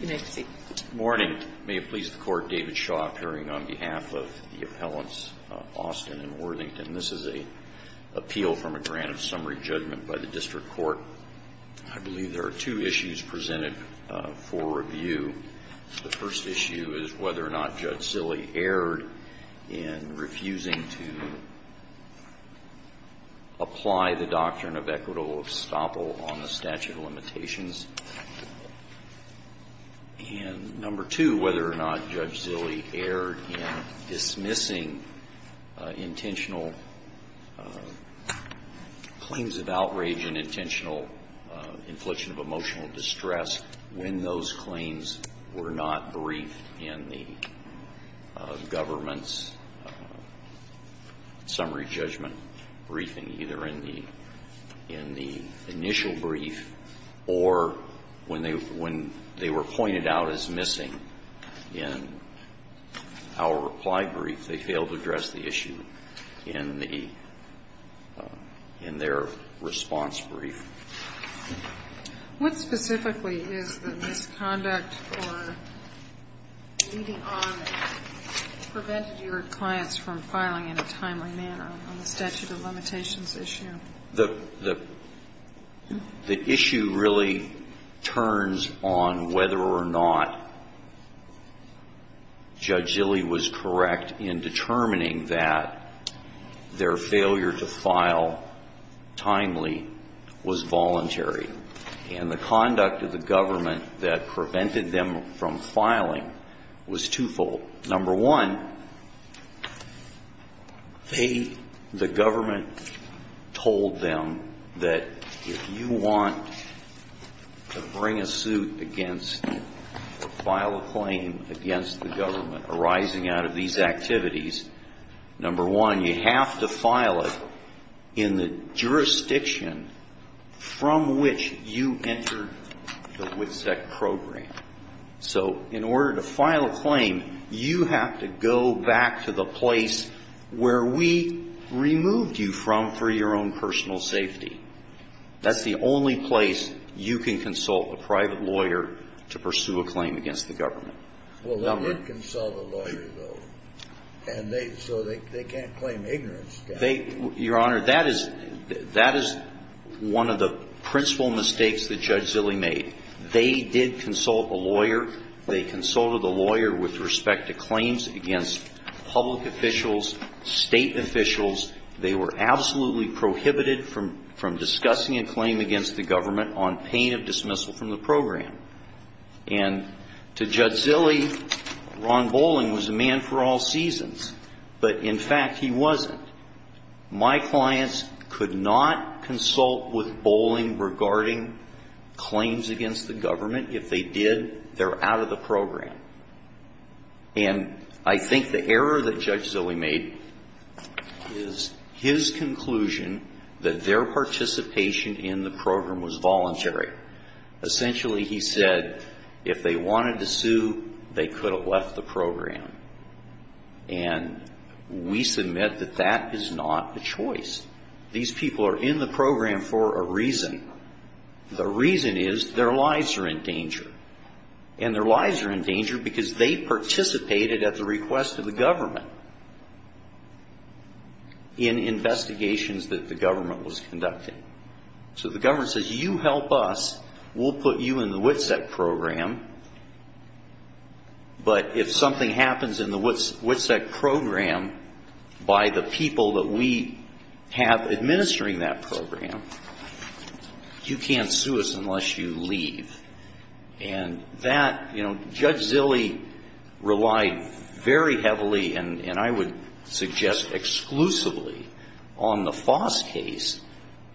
Good morning. May it please the Court, David Shaw, appearing on behalf of the appellants Austin and Worthington. This is an appeal from a grant of summary judgment by the District Court. I believe there are two issues presented for review. The first issue is whether or not Judge Zille erred in refusing to apply the doctrine of equitable estoppel on the statute of limitations. And number two, whether or not Judge Zille erred in dismissing intentional claims of outrage and intentional infliction of emotional distress when those government's summary judgment briefing, either in the initial brief or when they were pointed out as missing in our reply brief, they failed to address the issue in their response brief. What specifically is the misconduct or leading on that prevented your clients from filing in a timely manner on the statute of limitations issue? The issue really turns on whether or not Judge Zille was correct in determining that their claim was voluntary. And the conduct of the government that prevented them from filing was twofold. Number one, they, the government, told them that if you want to bring a suit against or file a claim against the government arising out of these activities, number one, you have to file it in the jurisdiction from which you entered the WCSEC program. So in order to file a claim, you have to go back to the place where we removed you from for your own personal safety. That's the only place you can consult a private lawyer to pursue a claim against the government. Well, they wouldn't consult a lawyer, though. And they, so they can't claim ignorance to that. Your Honor, that is one of the principal mistakes that Judge Zille made. They did consult a lawyer. They consulted a lawyer with respect to claims against public officials, State officials. They were absolutely prohibited from discussing a claim against the Zille, Ron Boling, was a man for all seasons. But, in fact, he wasn't. My clients could not consult with Boling regarding claims against the government. If they did, they're out of the program. And I think the error that Judge Zille made is his conclusion that their participation in the program was voluntary. Essentially, he said if they wanted to sue, they could have left the program. And we submit that that is not the choice. These people are in the program for a reason. The reason is their lives are in danger. And their lives are in danger because they participated at the request of the government in investigations that the government was conducting. So the government says you help us, we'll put you in the WITSEC program. But if something happens in the WITSEC program by the people that we have administering that program, you can't sue us unless you leave. And that, you know, Judge Zille relied very heavily, and I would suggest exclusively, on the Foss case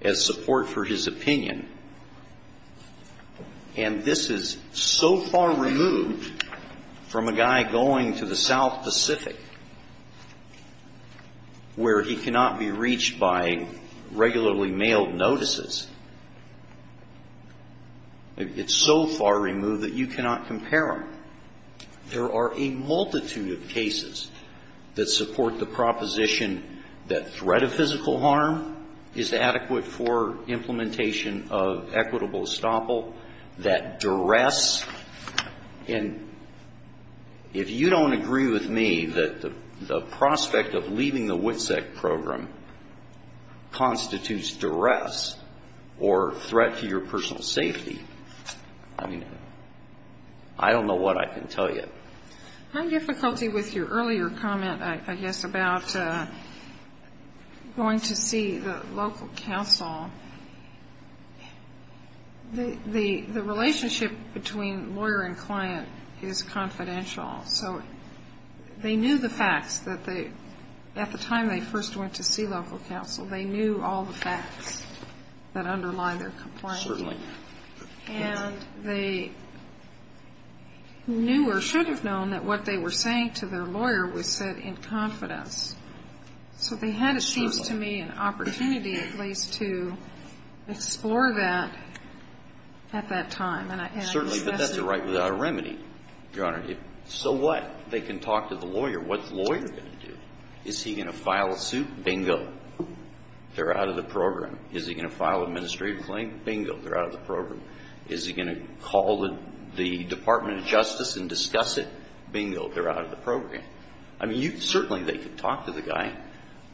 as support for his opinion. And this is so far removed from a guy going to the South Pacific where he cannot be reached by regularly mailed notices. It's so far removed that you cannot compare them. There are a multitude of cases that support the proposition that threat of physical harm is adequate for implementation of equitable estoppel, that duress. And if you don't agree with me that the prospect of leaving the WITSEC program constitutes duress or threat to your personal safety, I mean, I don't know what I can tell you. My difficulty with your earlier comment, I guess, about going to see the local counsel, the relationship between lawyer and client is confidential. So they knew the facts that underlie their complaint. Certainly. And they knew or should have known that what they were saying to their lawyer was said in confidence. So they had, it seems to me, an opportunity at least to explore that at that time. And I guess that's the problem. Certainly. But that's a right without a remedy, Your Honor. So what? They can talk to the lawyer. What's the lawyer going to do? Is he going to file a suit? Bingo. They're out of the program. Is he going to file an administrative claim? Bingo. They're out of the program. Is he going to call the Department of Justice and discuss it? Bingo. They're out of the program. I mean, you certainly, they could talk to the guy.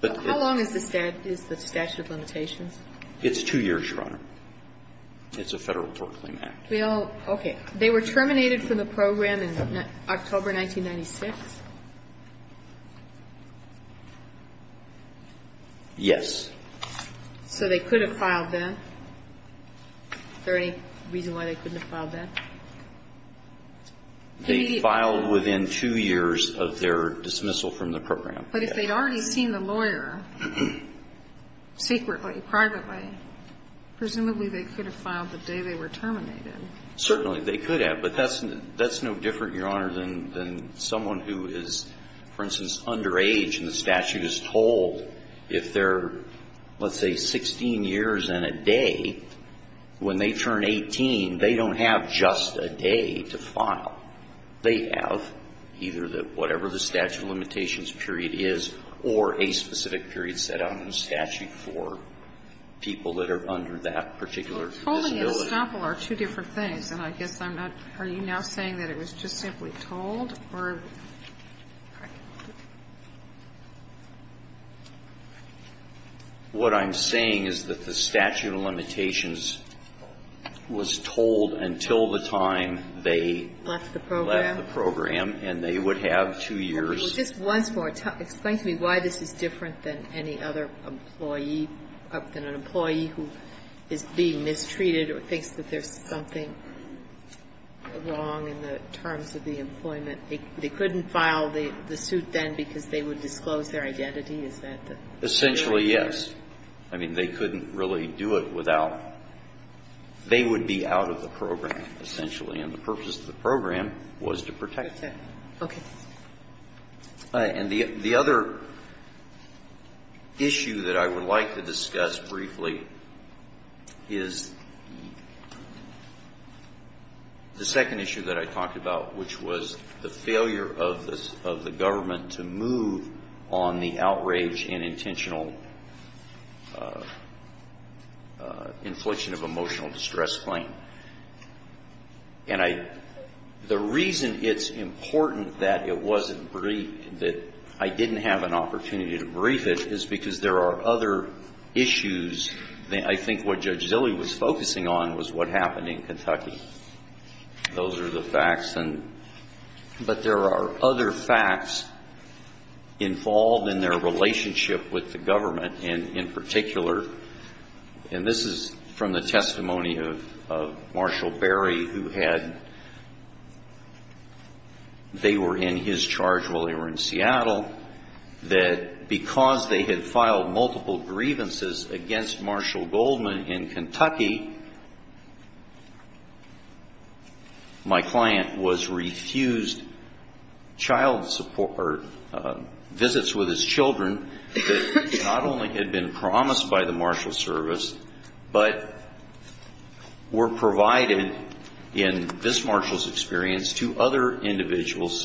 How long is the statute of limitations? It's two years, Your Honor. It's a Federal Tort Claim Act. Well, okay. They were terminated from the program in October 1996? Yes. So they could have filed then? Is there any reason why they couldn't have filed then? They filed within two years of their dismissal from the program. But if they'd already seen the lawyer secretly, privately, presumably they could have filed the day they were terminated. Certainly. They could have. But that's no different, Your Honor, than someone who is, for instance, underage and the statute has told if they're, let's say, 16 years and a day, when they turn 18, they don't have just a day to file. They have either the whatever the statute of limitations period is or a specific period set out in the What I'm saying is that the statute of limitations was told until the time they left Left the program. And they would have two years. Well, just once more, explain to me why this is different than any other employee something wrong in the terms of the employment. They couldn't file the suit then because they would disclose their identity? Is that the Essentially, yes. I mean, they couldn't really do it without They would be out of the program, essentially. And the purpose of the program was to protect them. Okay. And the other issue that I would like to discuss briefly is the fact that there The second issue that I talked about, which was the failure of the government to move on the outrage and intentional infliction of emotional distress claim. And I the reason it's important that it wasn't briefed, that I didn't have an opportunity to brief it is because there are other issues. I think what Judge Zilley was focusing on was what happened in Kentucky. Those are the facts. But there are other facts involved in their relationship with the government. And in particular, and this is from the testimony of Marshall Berry, who had they were in his charge while they were in Seattle, that because they had filed multiple grievances against Marshall Goldman in Kentucky, my client was refused child support or visits with his children that not only had been promised by the Marshall service, but were provided in visits with his children. And in particular, this Marshall's experience to other individuals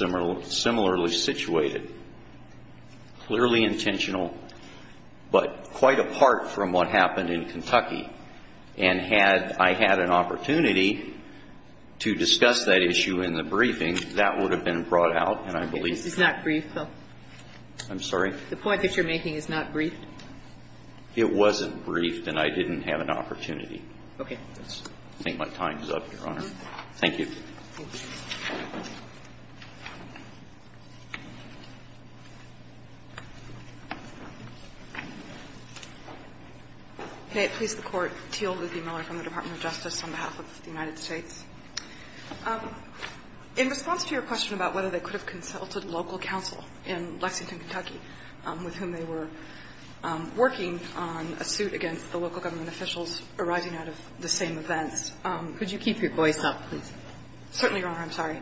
similarly situated, clearly intentional, but quite apart from what happened in Kentucky. And had I had an opportunity to discuss that issue in the briefing, that would have been brought out. And I believe This is not briefed, though. I'm sorry? The point that you're making is not briefed. It wasn't briefed, and I didn't have an opportunity. Okay. I think my time is up, Your Honor. Thank you. Thank you. May it please the Court. Teal Luthie Miller from the Department of Justice on behalf of the United States. In response to your question about whether they could have consulted local counsel in Lexington, Kentucky, with whom they were working on a suit against the local government officials arising out of the same events. Could you keep your voice up, please? Certainly, Your Honor. I'm sorry.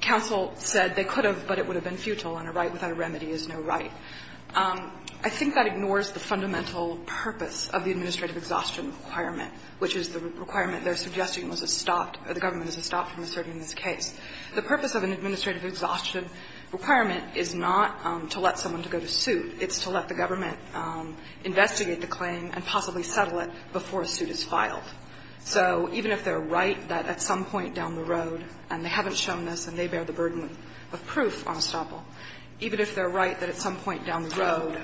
Counsel said they could have, but it would have been futile, and a right without a remedy is no right. I think that ignores the fundamental purpose of the administrative exhaustion requirement, which is the requirement they're suggesting was a stop, or the government is a stop from asserting this case. The purpose of an administrative exhaustion requirement is not to let someone to go to investigate the claim and possibly settle it before a suit is filed. So even if they're right that at some point down the road, and they haven't shown this and they bear the burden of proof on estoppel, even if they're right that at some point down the road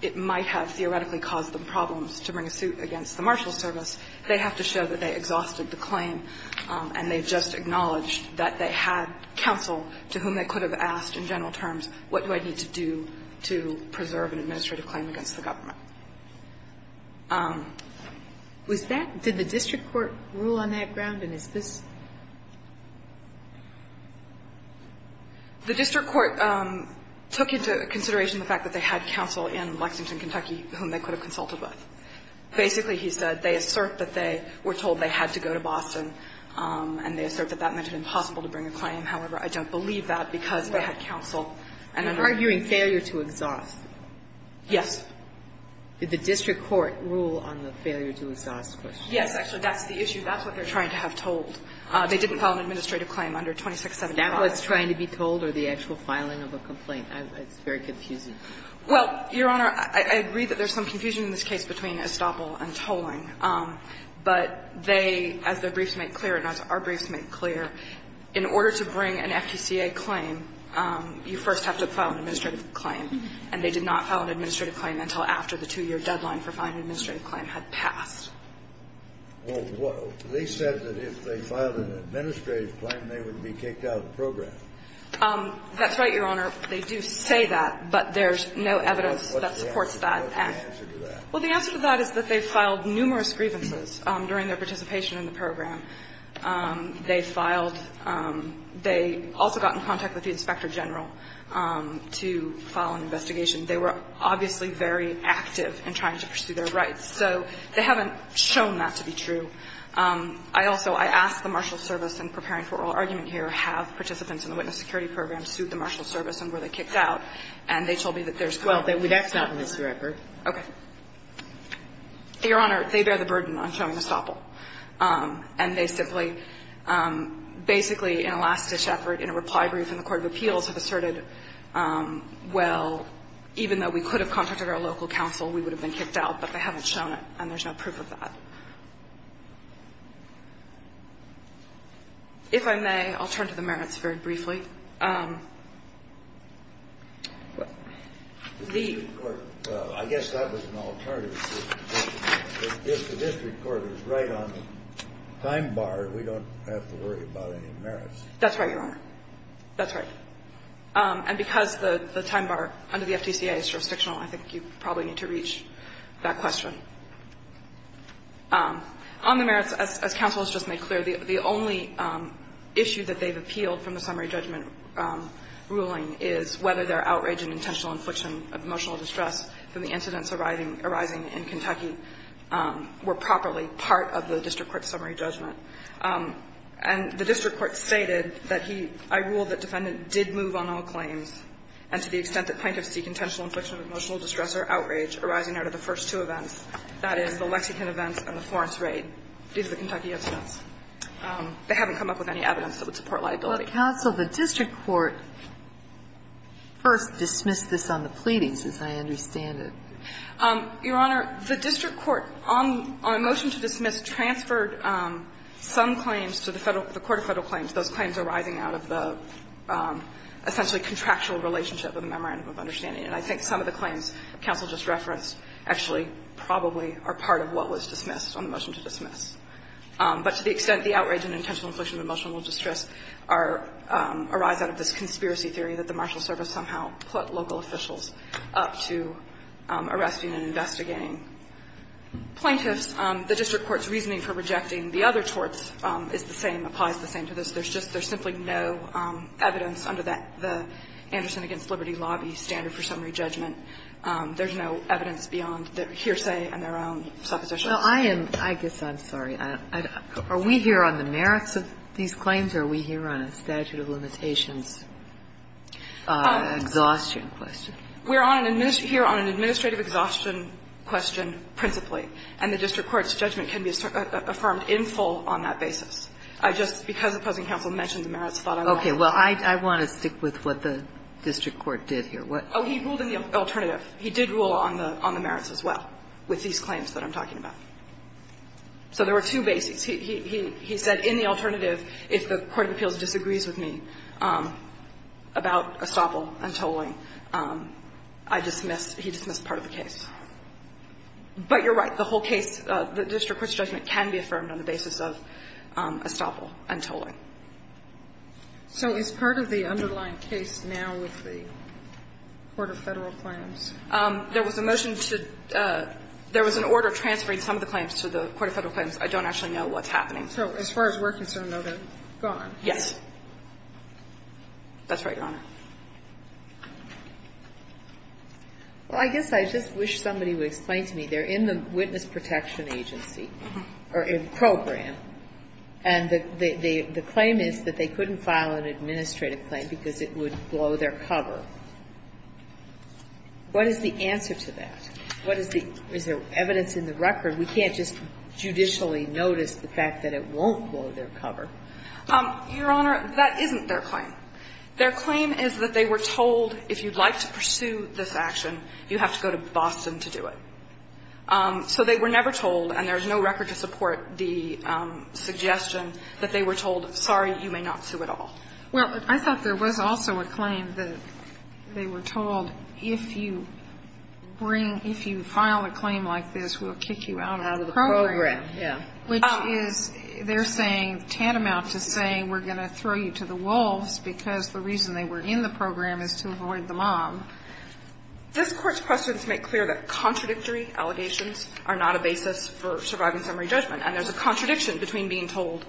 it might have theoretically caused them problems to bring a suit against the marshal service, they have to show that they exhausted the claim and they just acknowledged that they had counsel to whom they could have asked in general terms, what do I need to do to preserve an administrative claim against the government? Was that — did the district court rule on that ground? And is this — The district court took into consideration the fact that they had counsel in Lexington, Kentucky, whom they could have consulted with. Basically, he said, they assert that they were told they had to go to Boston, and they assert that that meant it impossible to bring a claim. However, I don't believe that because they had counsel. And I'm not going to argue that. And you're arguing failure to exhaust. Yes. Did the district court rule on the failure to exhaust question? Yes, actually, that's the issue. That's what they're trying to have told. They didn't file an administrative claim under 2675. Is that what's trying to be told or the actual filing of a complaint? It's very confusing. Well, Your Honor, I agree that there's some confusion in this case between estoppel and tolling, but they, as their briefs make clear and as our briefs make clear, in order to bring an FQCA claim, you first have to file an administrative claim, and they did not file an administrative claim until after the two-year deadline for filing an administrative claim had passed. Well, they said that if they filed an administrative claim, they would be kicked out of the program. That's right, Your Honor. They do say that, but there's no evidence that supports that. What's the answer to that? Well, the answer to that is that they filed numerous grievances during their participation in the program. They filed – they also got in contact with the inspector general to file an investigation. They were obviously very active in trying to pursue their rights. So they haven't shown that to be true. I also – I asked the marshal service in preparing for oral argument here, have participants in the witness security program sued the marshal service and were they kicked out, and they told me that there's no evidence. Well, that's not in this record. Okay. Your Honor, they bear the burden on showing estoppel. And they simply – basically, in a last-ditch effort, in a reply brief in the court of appeals, have asserted, well, even though we could have contacted our local counsel, we would have been kicked out, but they haven't shown it, and there's no proof of that. If I may, I'll turn to the merits very briefly. The – Well, I guess that was an alternative. If the district court is right on the time bar, we don't have to worry about any merits. That's right, Your Honor. That's right. And because the time bar under the FTCA is jurisdictional, I think you probably need to reach that question. On the merits, as counsel has just made clear, the only issue that they've appealed from the summary judgment ruling is whether their outrage and intentional infliction of emotional distress from the incidents arising in Kentucky were properly part of the district court's summary judgment. And the district court stated that he – I ruled that defendant did move on all claims, and to the extent that plaintiffs seek intentional infliction of emotional distress or outrage arising out of the first two events, that is, the Lexington events and the Florence raid, these are the Kentucky incidents, they haven't come up with any evidence that would support liability. But, counsel, the district court first dismissed this on the pleadings, as I understand it. Your Honor, the district court, on a motion to dismiss, transferred some claims to the Federal – the court of Federal claims. Those claims arising out of the essentially contractual relationship of the memorandum of understanding. And I think some of the claims counsel just referenced actually probably are part of what was dismissed on the motion to dismiss. But to the extent the outrage and intentional infliction of emotional distress are – arise out of this conspiracy theory that the marshal service somehow put local officials up to arresting and investigating plaintiffs, the district court's reasoning for rejecting the other torts is the same, applies the same to this. There's just – there's simply no evidence under the Anderson v. Liberty lobby standard for summary judgment. There's no evidence beyond their hearsay and their own supposition. Well, I am – I guess I'm sorry. Are we here on the merits of these claims, or are we here on a statute of limitations exhaustion question? We're on an – here on an administrative exhaustion question principally. And the district court's judgment can be affirmed in full on that basis. I just, because the present counsel mentioned the merits, thought I would like to add. Okay. Well, I want to stick with what the district court did here. What – Oh, he ruled in the alternative. He did rule on the merits as well with these claims that I'm talking about. So there were two basics. He said in the alternative, if the court of appeals disagrees with me about estoppel and tolling, I dismiss – he dismissed part of the case. But you're right. The whole case, the district court's judgment can be affirmed on the basis of estoppel and tolling. So is part of the underlying case now with the court of Federal claims? There was a motion to – there was an order transferring some of the claims to the court of Federal claims. I don't actually know what's happening. So as far as we're concerned, they're gone? Yes. That's right, Your Honor. Well, I guess I just wish somebody would explain to me. They're in the Witness Protection Agency, or in program. And the claim is that they couldn't file an administrative claim because it would blow their cover. What is the answer to that? What is the – is there evidence in the record? We can't just judicially notice the fact that it won't blow their cover. Your Honor, that isn't their claim. Their claim is that they were told if you'd like to pursue this action, you have to go to Boston to do it. So they were never told, and there's no record to support the suggestion that they were told, sorry, you may not sue at all. Well, I thought there was also a claim that they were told if you bring – if you file a claim like this, we'll kick you out of the program. Out of the program, yes. Which is, they're saying, tantamount to saying we're going to throw you to the wolves because the reason they were in the program is to avoid the mob. This Court's questions make clear that contradictory allegations are not a basis for surviving summary judgment, and there's a contradiction between being told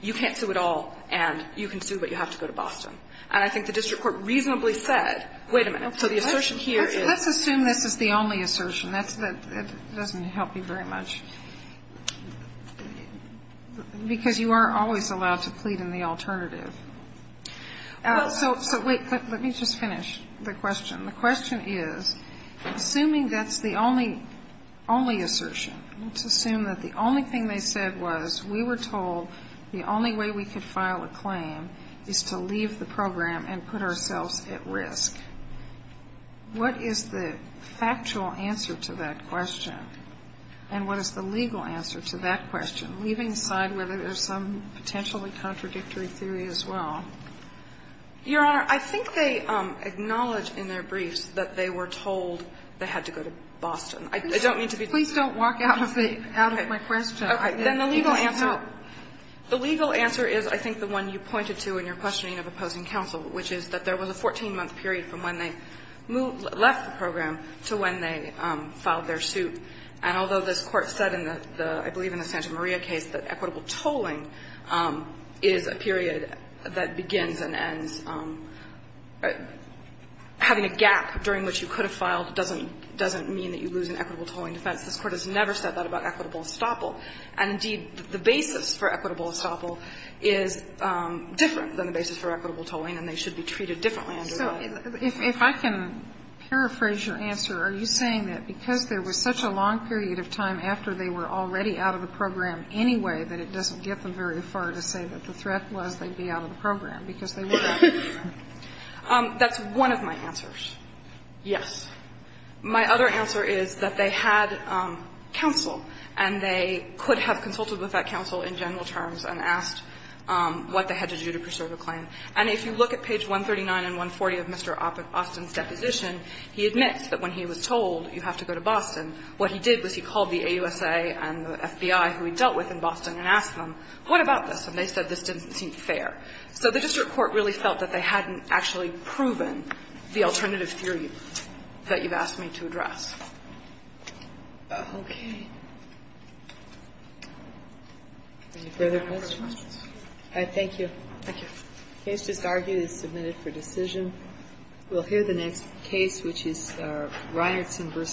you can't sue at all and you can sue but you have to go to Boston. And I think the district court reasonably said, wait a minute, so the assertion here is – Let's assume this is the only assertion. That's the – it doesn't help you very much, because you are always allowed to plead in the alternative. So wait, let me just finish the question. The question is, assuming that's the only assertion, let's assume that the only thing they said was we were told the only way we could file a claim is to leave the program and put ourselves at risk. What is the factual answer to that question, and what is the legal answer to that question, leaving aside whether there's some potentially contradictory theory as well? Your Honor, I think they acknowledge in their briefs that they were told they had to go to Boston. I don't mean to be – Please don't walk out of the – out of my question. Then the legal answer – Okay. It didn't help. The legal answer is, I think, the one you pointed to in your questioning of opposing counsel, which is that there was a 14-month period from when they left the program to when they filed their suit. And although this Court said in the – I believe in the Santa Maria case that equitable tolling is a period that begins and ends – having a gap during which you could have filed doesn't mean that you lose an equitable tolling defense. This Court has never said that about equitable estoppel. And, indeed, the basis for equitable estoppel is different than the basis for equitable tolling, and they should be treated differently under that. So if I can paraphrase your answer, are you saying that because there was such a long period of time after they were already out of the program anyway that it doesn't get them very far to say that the threat was they'd be out of the program because they were out of the program? That's one of my answers, yes. My other answer is that they had counsel, and they could have consulted with that counsel in general terms and asked what they had to do to preserve the claim. And if you look at page 139 and 140 of Mr. Austin's deposition, he admits that when he was told you have to go to Boston, what he did was he called the AUSA and the FBI, who he dealt with in Boston, and asked them, what about this? And they said this didn't seem fair. So the district court really felt that they hadn't actually proven the alternative theory that you've asked me to address. Okay. Any further questions? All right. Thank you. Thank you. The case just argued is submitted for decision. We'll hear the next case, which is Ryerson v. Barnhart.